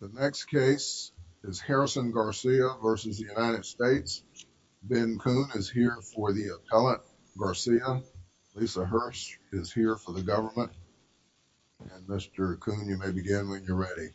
The next case is Harrison Garcia v. United States. Ben Kuhn is here for the appellate Garcia. Lisa Hurst is here for the government. Mr. Kuhn, you may begin when you're ready.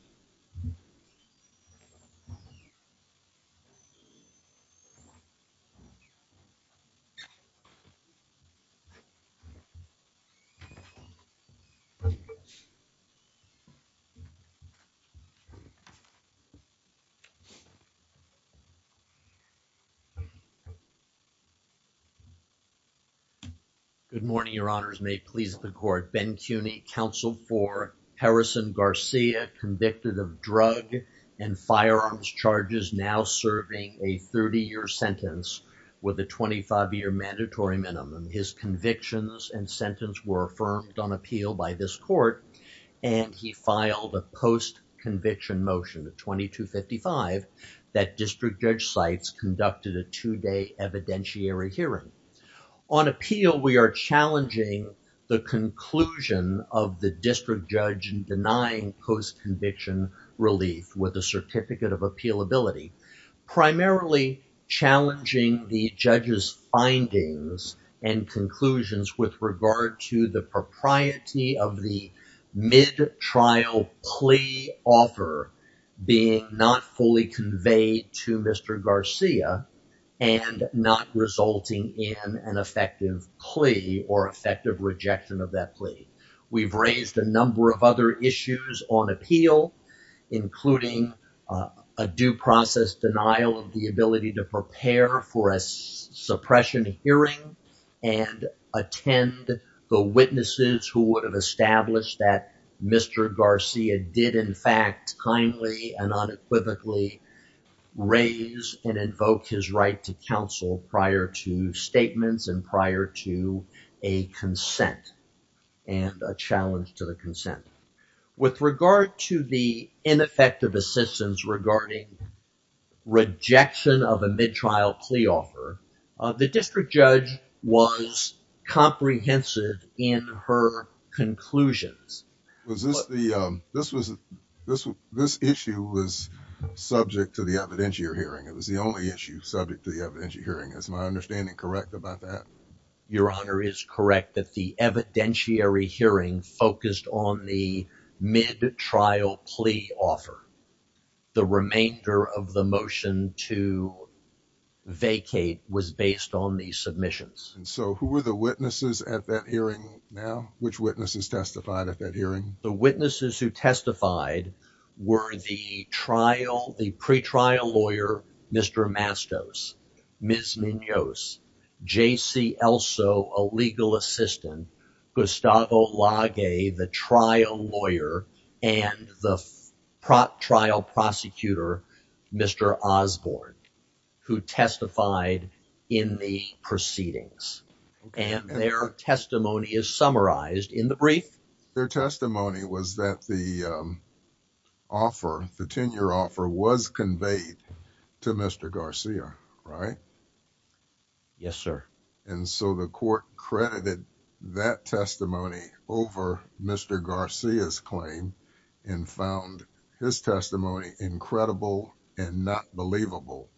Good morning, your honors. May it please the court. Ben Kuhn, counsel for Harrison Garcia, convicted of drug and firearms charges, now serving a 30-year sentence with a 25-year mandatory minimum. His convictions and sentence were affirmed on appeal by this court, and he filed a post-conviction motion, 2255, that district judge cites conducted a two-day evidentiary hearing. On appeal, we are challenging the conclusion of the district judge denying post-conviction relief with a certificate of appealability, primarily challenging the and conclusions with regard to the propriety of the mid-trial plea offer being not fully conveyed to Mr. Garcia and not resulting in an effective plea or effective rejection of that plea. We've raised a number of other issues on appeal, including a due process denial of the and attend the witnesses who would have established that Mr. Garcia did, in fact, kindly and unequivocally raise and invoke his right to counsel prior to statements and prior to a consent and a challenge to the consent. With regard to the ineffective assistance regarding rejection of a mid-trial plea offer, the district judge was comprehensive in her conclusions. This issue was subject to the evidentiary hearing. It was the only issue subject to the evidentiary hearing. Is my understanding correct about that? Your honor is correct that the of the motion to vacate was based on the submissions. And so who were the witnesses at that hearing now? Which witnesses testified at that hearing? The witnesses who testified were the trial, the pre-trial lawyer, Mr. Mastos, Ms. Munoz, J.C. Elso, a legal assistant, Gustavo Lage, the trial lawyer, and the trial prosecutor, Mr. Osborne, who testified in the proceedings. And their testimony is summarized in the brief. Their testimony was that the offer, the tenure offer, was conveyed to Mr. Garcia, right? Yes, sir. And so the court credited that testimony over Mr. Garcia's claim and found his testimony incredible and not believable.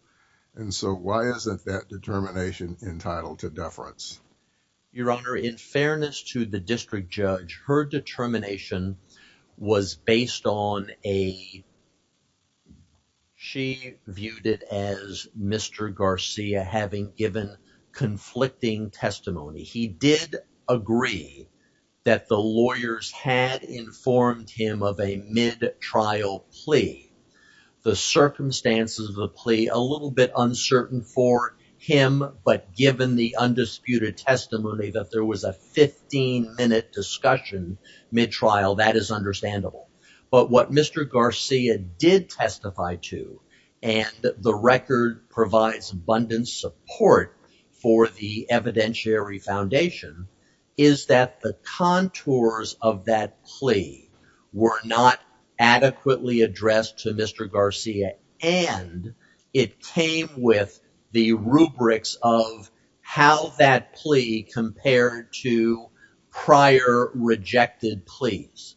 And so why isn't that determination entitled to deference? Your honor, in fairness to the district judge, her determination was based on a, she viewed it as Mr. Garcia having given conflicting testimony. He did agree that the lawyers had informed him of a mid-trial plea. The circumstances of the plea, a little bit uncertain for him, but given the undisputed testimony that there was a 15-minute discussion mid-trial, that is understandable. But what Mr. Garcia did testify to, and the record provides abundant support for the evidentiary foundation, is that the contours of that plea were not adequately addressed to Mr. Garcia and it came with the rubrics of how that plea compared to prior rejected pleas.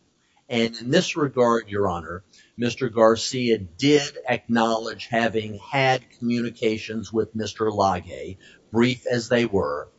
And in this regard, your honor, Mr. Garcia did acknowledge having had communications with Mr. Lage, brief as they were,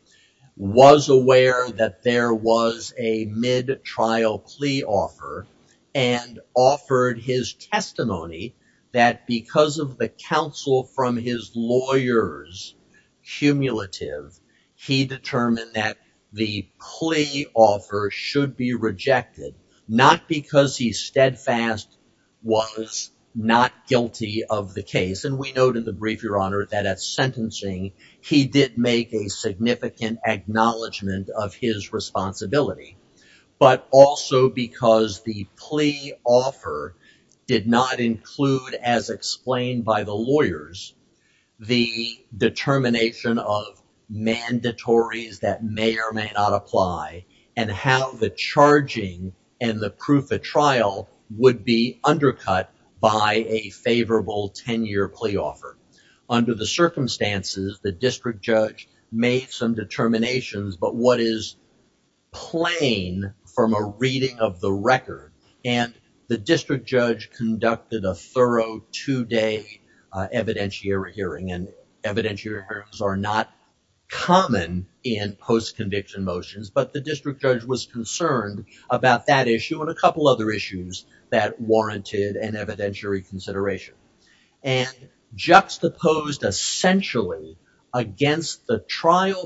was aware that there was a mid-trial plea offer and offered his testimony that because of the counsel from his lawyers' cumulative, he determined that the plea offer should be rejected, not because he steadfast was not guilty of the case. And we note in the brief, your honor, that at sentencing, he did make a significant acknowledgement of his responsibility, but also because the plea offer did not include, as explained by the lawyers, the determination of mandatories that may or may not apply and how the charging and the proof of trial would be undercut by a favorable 10-year plea offer. Under the circumstances, the district judge made some determinations, but what is plain from a reading of the record, and the district judge conducted a thorough two-day evidentiary hearing, and evidentiaries are not common in post-conviction motions, but the district judge was concerned about that issue and a couple other issues that warranted an evidentiary consideration and juxtaposed essentially against the trial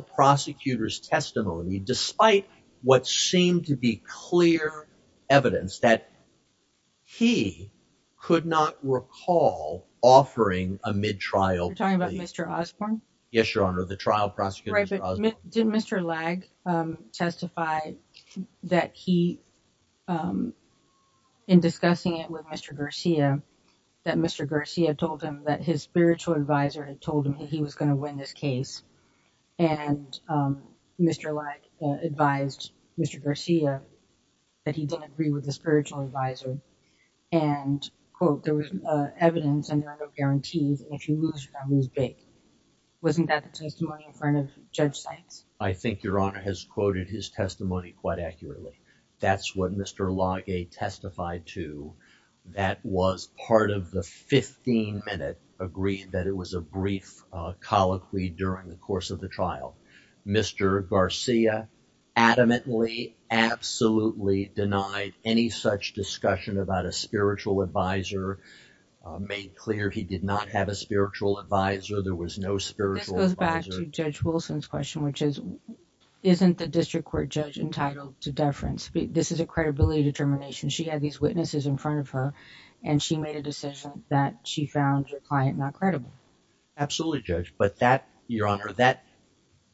Could not recall offering a mid-trial plea. You're talking about Mr. Osborne? Yes, your honor, the trial prosecutor. Did Mr. Lag testify that he, in discussing it with Mr. Garcia, that Mr. Garcia told him that his spiritual advisor had told him that he was going to win this case, and Mr. Lag advised Mr. Garcia that he didn't agree with the spiritual advisor, and quote, there was evidence and there are no guarantees, and if you lose, you're going to lose big. Wasn't that the testimony in front of Judge Sykes? I think your honor has quoted his testimony quite accurately. That's what Mr. Lag testified to. That was part of the 15-minute agreement that it was a brief colloquy during the course of the trial. Mr. Garcia adamantly, absolutely denied any such discussion about a spiritual advisor, made clear he did not have a spiritual advisor, there was no spiritual advisor. This goes back to Judge Wilson's question, which is, isn't the district court judge entitled to deference? This is a credibility determination. She had these witnesses in front of her, and she made a decision that she found her client not credible. Absolutely, Judge, but that, your honor, that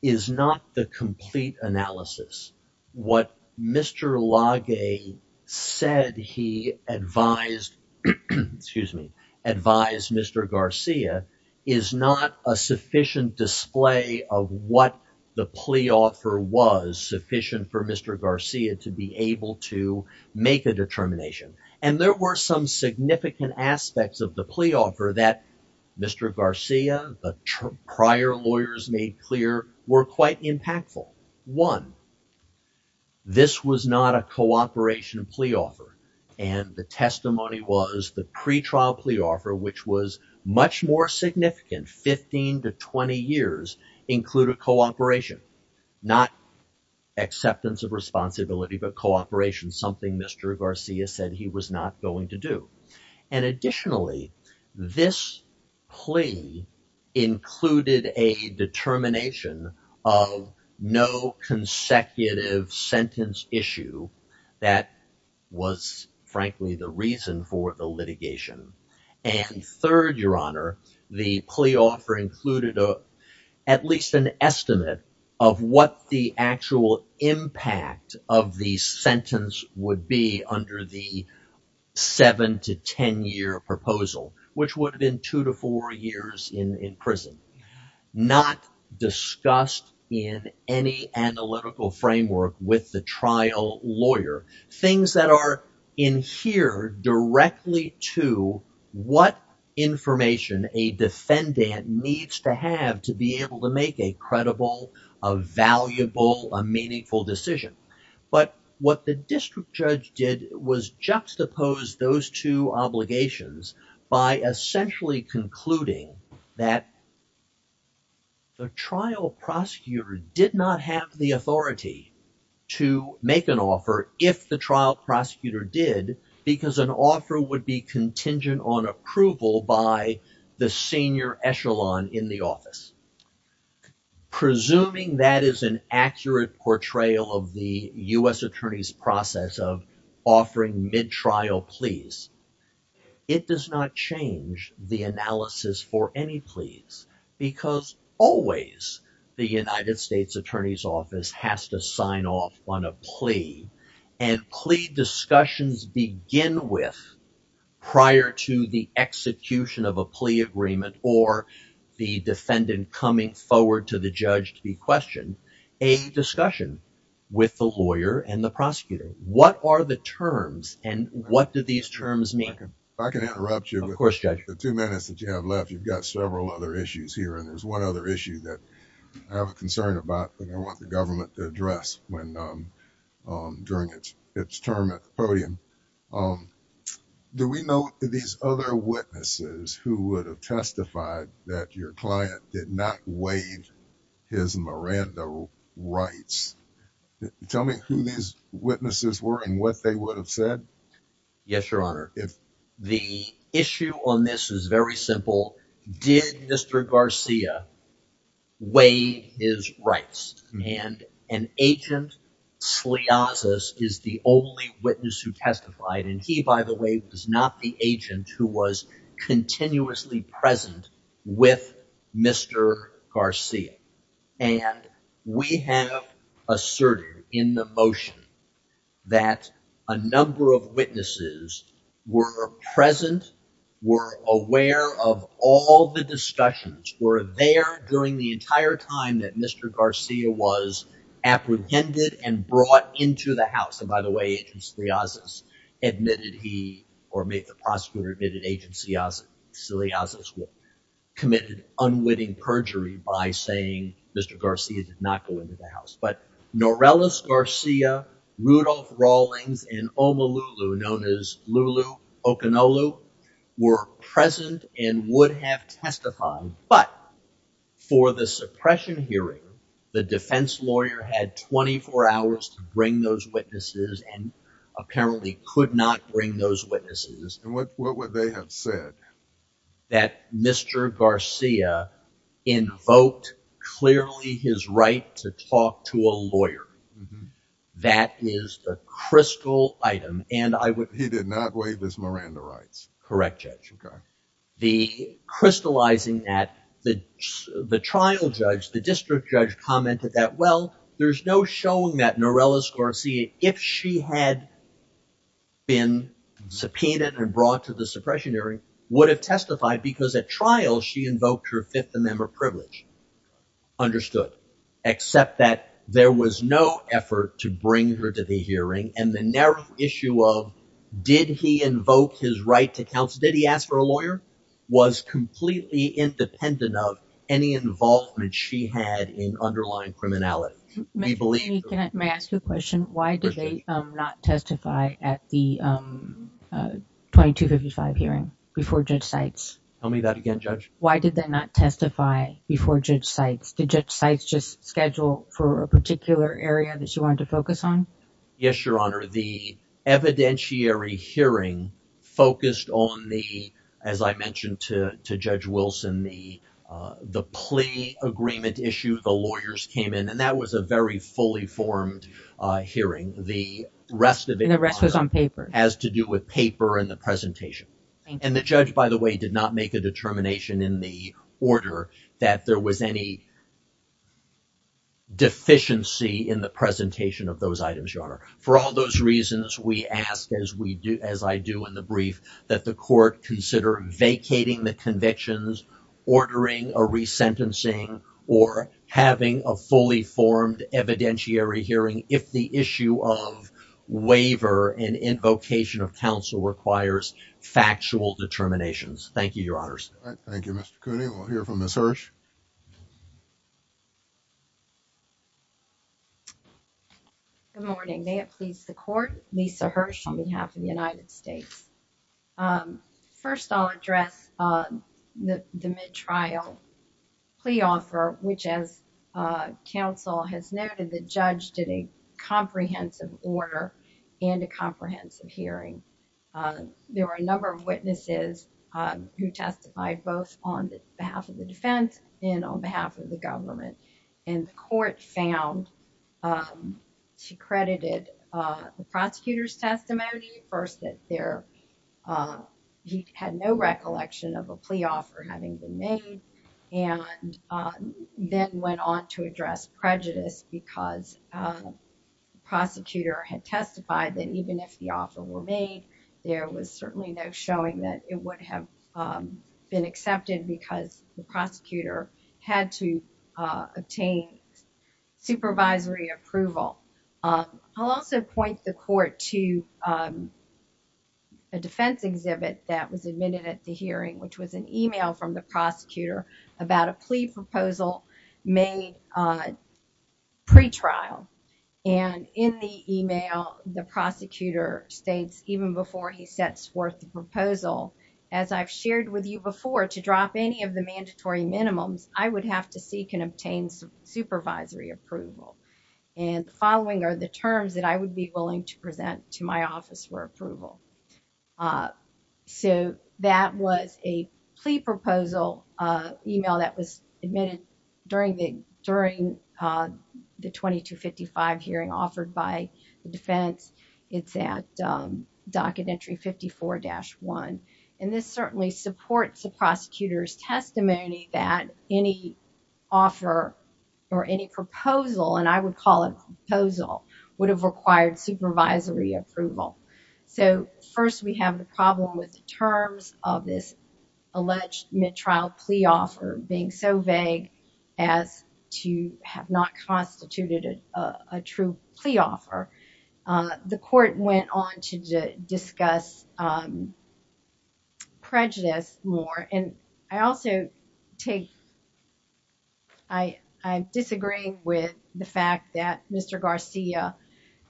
is not the complete analysis. What Mr. Lag said he advised, excuse me, advised Mr. Garcia is not a sufficient display of what the plea offer was sufficient for Mr. Garcia to be able to make a determination, and there were some significant aspects of the plea offer that Mr. Garcia, the prior lawyers made clear, were quite impactful. One, this was not a cooperation plea offer, and the testimony was the pre-trial plea offer, which was much more significant. 15 to 20 years included cooperation, not acceptance of responsibility, but cooperation, something Mr. Garcia said he was not going to do, and additionally, this plea included a determination of no consecutive sentence issue that was frankly the reason for the litigation, and third, your honor, the plea offer included a at least an estimate of what the actual impact of the sentence would be under the seven to ten year proposal, which would have been two to four years in prison, not discussed in any analytical framework with the trial lawyer, things that are in here directly to what information a defendant needs to have to be able to make a credible, a valuable, a meaningful decision, but what the district judge did was juxtapose those two obligations by essentially concluding that the trial prosecutor did not have the authority to make an offer if the trial prosecutor did, because an offer would be contingent on approval by the senior echelon in the office. Presuming that is an accurate portrayal of the U.S. attorney's process of offering mid-trial pleas, it does not change the analysis for any pleas, because always the United States attorney's office has to sign off on a plea, and plea discussions begin with, prior to the execution of a plea agreement or the defendant coming forward to the judge to be questioned, a discussion with the lawyer and the prosecutor. What are the terms, and what do these terms mean? If I can interrupt you. Of course, judge. The two minutes that you have left, you've got several other issues here, and there's one other issue that I have a concern about that I want the government to address when, during its term at the podium. Do we know these other witnesses who would have testified that your client did not waive his Miranda rights? Tell me who these witnesses were and what they would have said. Yes, your honor. The issue on this is very simple. Did Mr. Garcia waive his rights? And Agent Sliazes is the only witness who testified, and he, by the way, was not the agent who was continuously present with Mr. Garcia. And we have asserted in the motion that a number of witnesses were present, were aware of all the discussions, were there during the entire time that Mr. Garcia was apprehended and brought into the house. And by the way, Agent Sliazes admitted he, or made the prosecutor admitted Sliazes committed unwitting perjury by saying Mr. Garcia did not go into the house. But Norellas Garcia, Rudolph Rawlings, and Omolulu, known as Lulu Okonolu, were present and would have testified. But for the suppression hearing, the defense lawyer had 24 hours to bring those witnesses to trial. The trial judge, the district judge commented that, well, there's no showing that Norellas Garcia, if she had been subpoenaed and brought to the suppression hearing, would have testified because at trial she invoked her Fifth Amendment privilege. Understood. Except that there was no effort to bring her to the hearing, and the narrow issue of did he invoke his right to counsel, did he ask for a lawyer, was completely independent of any involvement she had in underlying criminality. May I ask you a question? Why did they not testify at the 2255 hearing before Judge Sites? Tell me that again, Judge. Why did they not testify before Judge Sites? Did Judge Sites just schedule for a particular area that you wanted to focus on? Yes, Your Honor. The evidentiary hearing focused on the, as I mentioned to Judge Wilson, the plea agreement issue. The lawyers came in, and that was a very fully formed hearing. The rest of it was on paper, as to do with paper and the presentation. And the judge, by the way, did not make a determination in the order that there was any deficiency in the presentation of those items, Your Honor. For all those reasons, we ask, as I do in the brief, that the court consider vacating the convictions, ordering a fully formed evidentiary hearing if the issue of waiver and invocation of counsel requires factual determinations. Thank you, Your Honors. Thank you, Mr. Cooney. We'll hear from Ms. Hirsch. Good morning. May it please the court, Lisa Hirsch on behalf of the United States. First, I'll address the mid-trial plea offer, which as counsel has noted, the judge did a comprehensive order and a comprehensive hearing. There were a number of witnesses who testified both on behalf of the defense and on behalf of the government. And the court found, she credited the prosecutor's testimony, first that there, he had no recollection of a plea offer having been made, and then went on to address prejudice because the prosecutor had testified that even if the offer were made, there was certainly no showing that it would have been accepted because the prosecutor had to obtain supervisory approval. I'll also point the court to a defense exhibit that was admitted at the hearing, which was an email from the prosecutor about a plea proposal made pre-trial. And in the email, the prosecutor states even before he sets forth the proposal, as I've shared with you before, to drop any of the mandatory minimums, I would have to seek and obtain supervisory approval. And the following are the terms that I would be willing to present to my office for approval. So, that was a plea proposal email that was admitted during the 2255 hearing offered by the defense. It's at docket entry 54-1. And this certainly supports the prosecutor's testimony that any offer or any proposal, and I would call it proposal, would have required supervisory approval. So, first we have the terms of this alleged mid-trial plea offer being so vague as to have not constituted a true plea offer. The court went on to discuss prejudice more. And I also take, I'm disagreeing with the fact that Mr. Garcia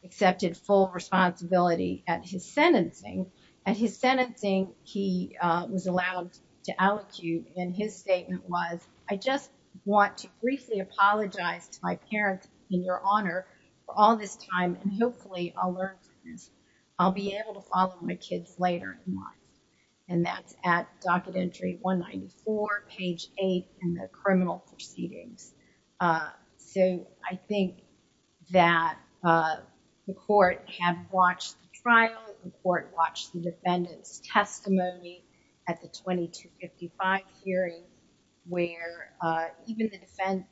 accepted full responsibility at his sentencing. At his sentencing, he was allowed to allecute, and his statement was, I just want to briefly apologize to my parents in your honor for all this time, and hopefully I'll learn from this. I'll be able to follow my kids later in life. And that's at docket entry 194, page 8 in the criminal proceedings. So, I think that the court had watched the trial, the court watched the defendant's testimony at the 2255 hearing, where even the defense,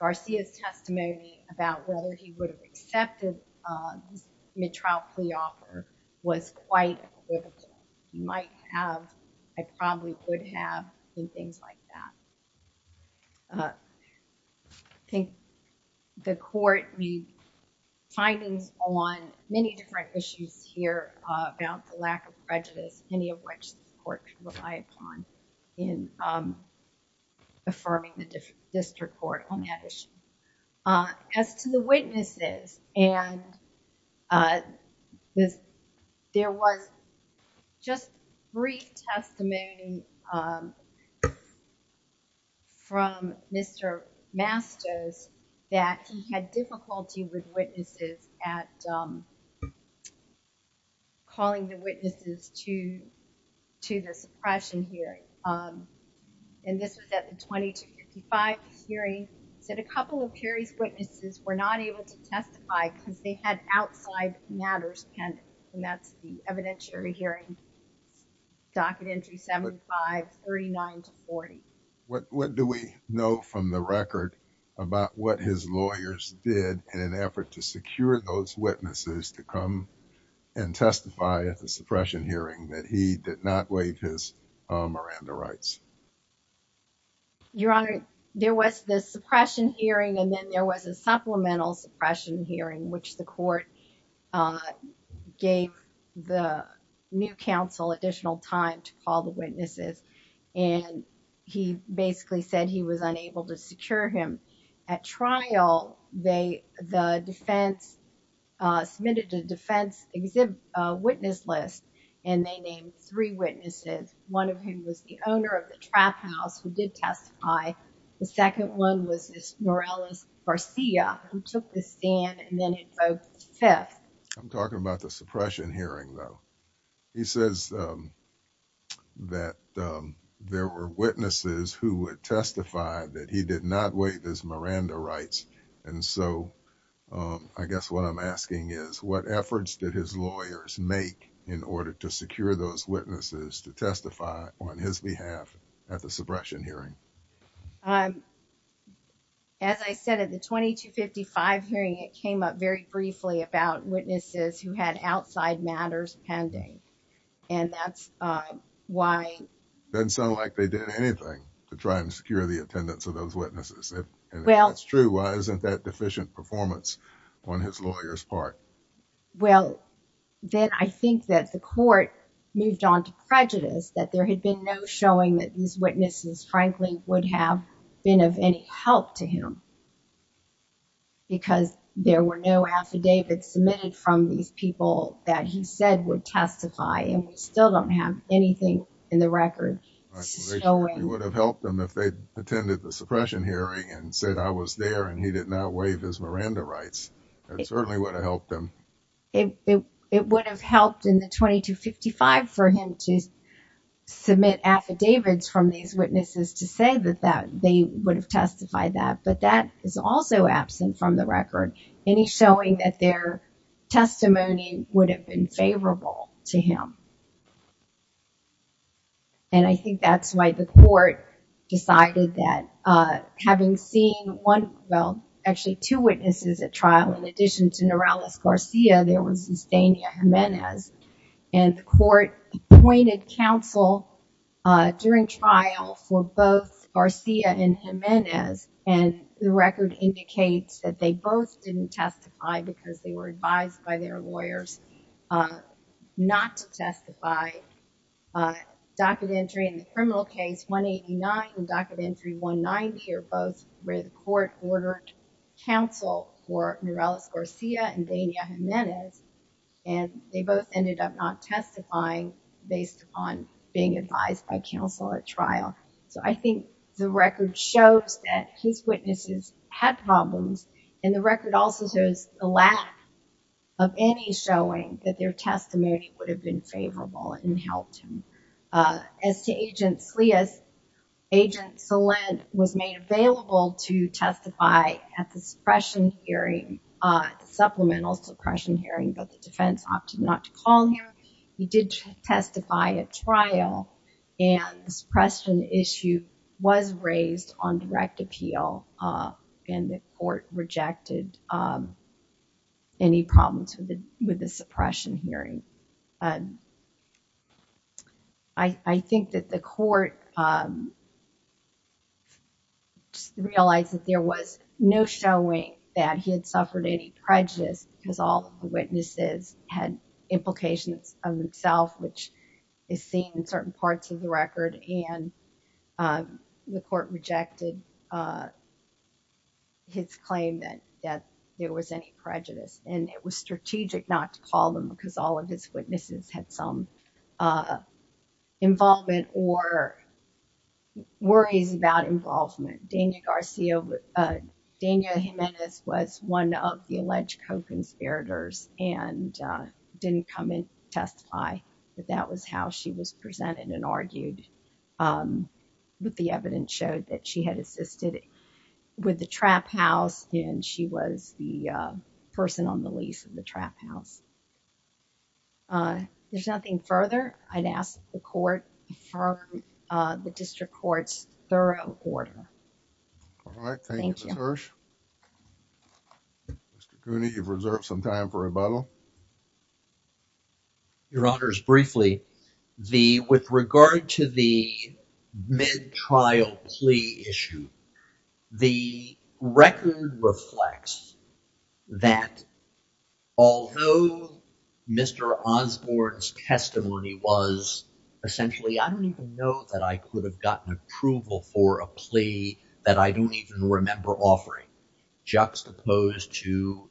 Garcia's testimony about whether he would have accepted this trial plea offer was quite equivocal. He might have, I probably would have, and things like that. I think the court made findings on many different issues here about the lack of prejudice, many of which the court can rely upon in affirming the district court on that issue. As to the witnesses, and there was just brief testimony from Mr. Mastos that he had difficulty with witnesses at calling the witnesses to the suppression hearing. And this was at the 2255 hearing. He said a couple of Perry's witnesses were not able to testify because they had outside matters pending, and that's the evidentiary hearing, docket entry 75, 39 to 40. What do we know from the record about what his lawyers did in an effort to secure those witnesses to come and testify at the suppression hearing that he did not waive his Miranda rights? Your Honor, there was the suppression hearing, and then there was a supplemental suppression hearing, which the court gave the new counsel additional time to call the witnesses, and he basically said he was unable to secure him. At trial, the defense submitted a defense witness list, and they named three witnesses. One of them was the owner of the trap house who did testify. The second one was this Morales Garcia who took the stand and then invoked the fifth. I'm talking about the suppression hearing though. He says that there were witnesses who would testify that he did not waive his Miranda rights. And so I guess what I'm asking is what efforts did his lawyers make in order to secure those witnesses to testify on his behalf? At the suppression hearing. As I said, at the 2255 hearing, it came up very briefly about witnesses who had outside matters pending, and that's why. Doesn't sound like they did anything to try and secure the attendance of those witnesses. If that's true, why isn't that deficient performance on his lawyer's part? Well, then I think that the court moved on to frankly would have been of any help to him because there were no affidavits submitted from these people that he said would testify, and we still don't have anything in the record. It would have helped them if they attended the suppression hearing and said I was there and he did not waive his Miranda rights. It certainly would have helped them. It would have helped in the 2255 for him to submit affidavits from these witnesses to say that they would have testified that, but that is also absent from the record. Any showing that their testimony would have been favorable to him. And I think that's why the court decided that having seen actually two witnesses at trial, in addition to Norales Garcia, there was Zustania Jimenez, and the court appointed counsel during trial for both Garcia and Jimenez, and the record indicates that they both didn't testify because they were advised by their lawyers not to testify. Documentary in the criminal case 189 and documentary 190 are both where the court ordered counsel for Norales Garcia and Zustania Jimenez, and they both ended up not testifying based on being advised by counsel at trial. So I think the record shows that his witnesses had problems, and the record also shows the lack of any showing that their testimony would have been favorable and helped him. As to Agent Salant, Agent Salant was made available to testify at the suppression hearing, the supplemental suppression hearing, but the defense opted not to call him. He did testify at trial, and the suppression issue was raised on direct appeal, and the court rejected any problems with the suppression hearing. I think that the court realized that there was no showing that he had suffered any prejudice because all the witnesses had implications of themselves, which is seen in certain parts of the record, and the court rejected his claim that there was any prejudice, and it was strategic not to call them because all of his witnesses had some involvement or worries about involvement. Daniel Garcia, Daniel Jimenez was one of the alleged co-conspirators and didn't come in to testify, but that was how she was presented and argued, but the evidence showed that she had assisted with the trap house, and she was the person on the lease of the trap house. There's nothing further. I'd ask the court for the district court's thorough order. All right, thank you, Ms. Hirsch. Mr. Cooney, you've reserved some time for rebuttal. Thank you, Your Honors. Briefly, with regard to the mid-trial plea issue, the record reflects that although Mr. Osborne's testimony was essentially, I don't even know that I could have gotten approval for a plea that I don't even remember offering, juxtaposed to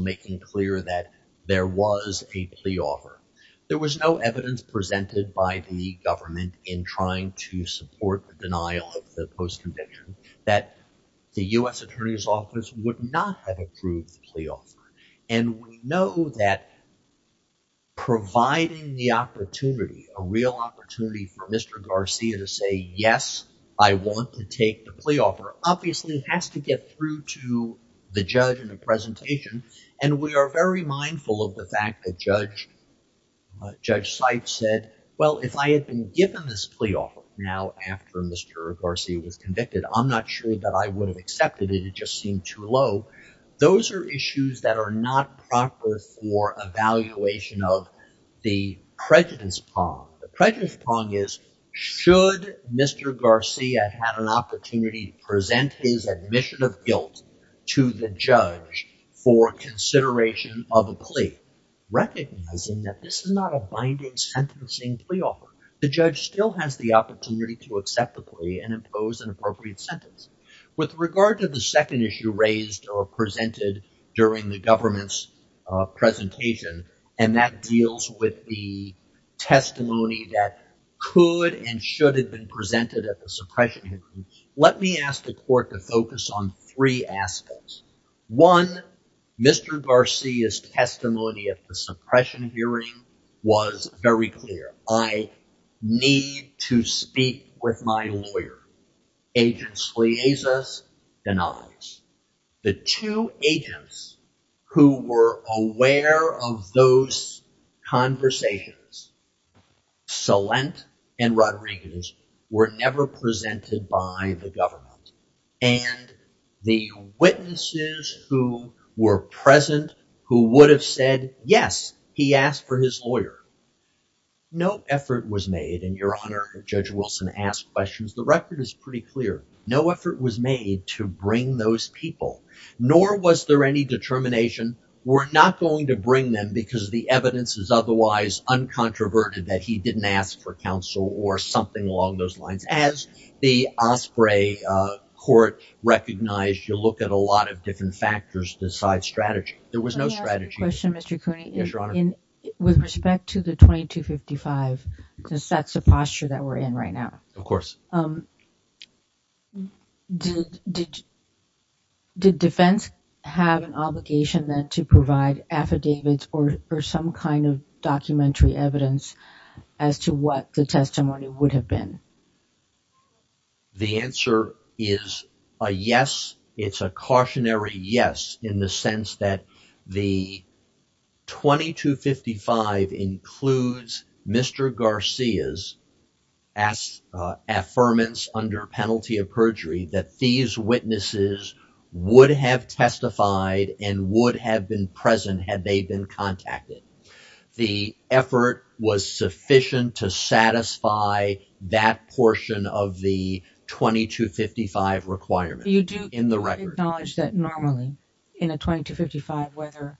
making clear that there was a plea offer. There was no evidence presented by the government in trying to support the denial of the post-conviction that the U.S. Attorney's Office would not have approved the plea offer, and we know that providing the opportunity, a real opportunity for Mr. Garcia to say, yes, I want to take the plea offer obviously has to get through to the judge in the presentation, and we are very mindful of the fact that Judge Seif said, well, if I had been given this plea offer now after Mr. Garcia was convicted, I'm not sure that I would have accepted it. It just seemed too low. Those are issues that are not proper for evaluation of the prejudice pong. The prejudice pong is, should Mr. Garcia have had an opportunity to present his admission of guilt to the judge for consideration of a plea, recognizing that this is not a binding sentencing plea offer. The judge still has the opportunity to accept the plea and impose an appropriate sentence. With regard to the second issue raised or presented during the government's presentation, and that deals with the testimony that could and should have been presented at the suppression hearing, let me ask the court to focus on three aspects. One, Mr. Garcia's testimony at the suppression hearing was very clear. I need to speak with my lawyer. Agent Sleazes denies. The two agents who were aware of those conversations, Salent and Rodriguez, were never presented by the government, and the witnesses who were present who would have said, yes, he asked for his lawyer. No effort was made, and your honor, Judge Wilson asked questions. The record is pretty clear. No effort was made to bring those people, nor was there any determination we're not going to bring them because the evidence is otherwise uncontroverted that he didn't ask for counsel or something along those lines. As the Osprey court recognized, you look at a lot of different factors besides strategy. There was no strategy. Let me ask you a question, Mr. Cooney. Yes, your honor. With respect to the 2255, because that's the posture that we're in right now. Of course. Did defense have an obligation then to provide affidavits or some kind of documentary evidence as to what the testimony would have been? The answer is a yes. It's a cautionary yes in the sense that the 2255 includes Mr. Garcia's affirmance under penalty of perjury that these witnesses would have testified and would have been present had they been contacted. The effort was sufficient to satisfy that portion of the 2255 requirement in the record. You do acknowledge that normally in a 2255, whether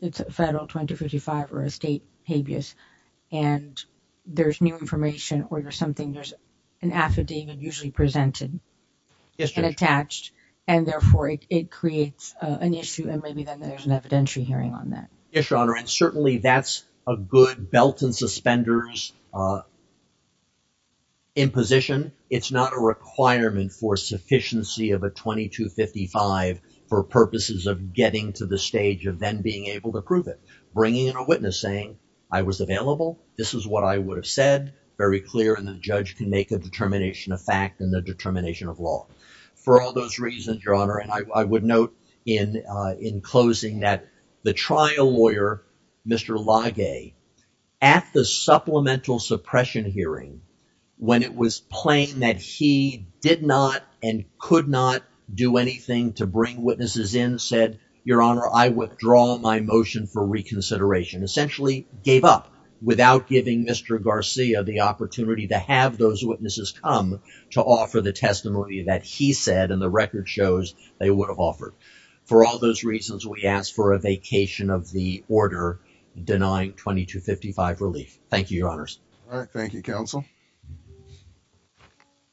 it's a federal 2255 or a state habeas and there's new information or there's something there's an affidavit usually presented and attached and therefore it creates an issue and maybe then there's an evidentiary hearing on that. Yes, your honor. And certainly that's a good belt and suspenders imposition. It's not a requirement for sufficiency of a 2255 for purposes of getting to the stage of then being able to prove it. Bringing in a witness saying I was available. This is what I would have said. Very clear and the judge can make a determination of fact and the determination of law. For all those reasons, your honor, and I would note in closing that the trial lawyer, Mr. Lage, at the supplemental suppression hearing when it was plain that he did not and could not do anything to bring witnesses in said, your honor, I withdraw my motion for reconsideration. Essentially gave up without giving Mr. Garcia the opportunity to have those witnesses come to offer the testimony that he said and the record shows they would have offered. For all those reasons, we ask for a vacation of the order denying 2255 relief. Thank you, your honors. All right. Thank you, counsel.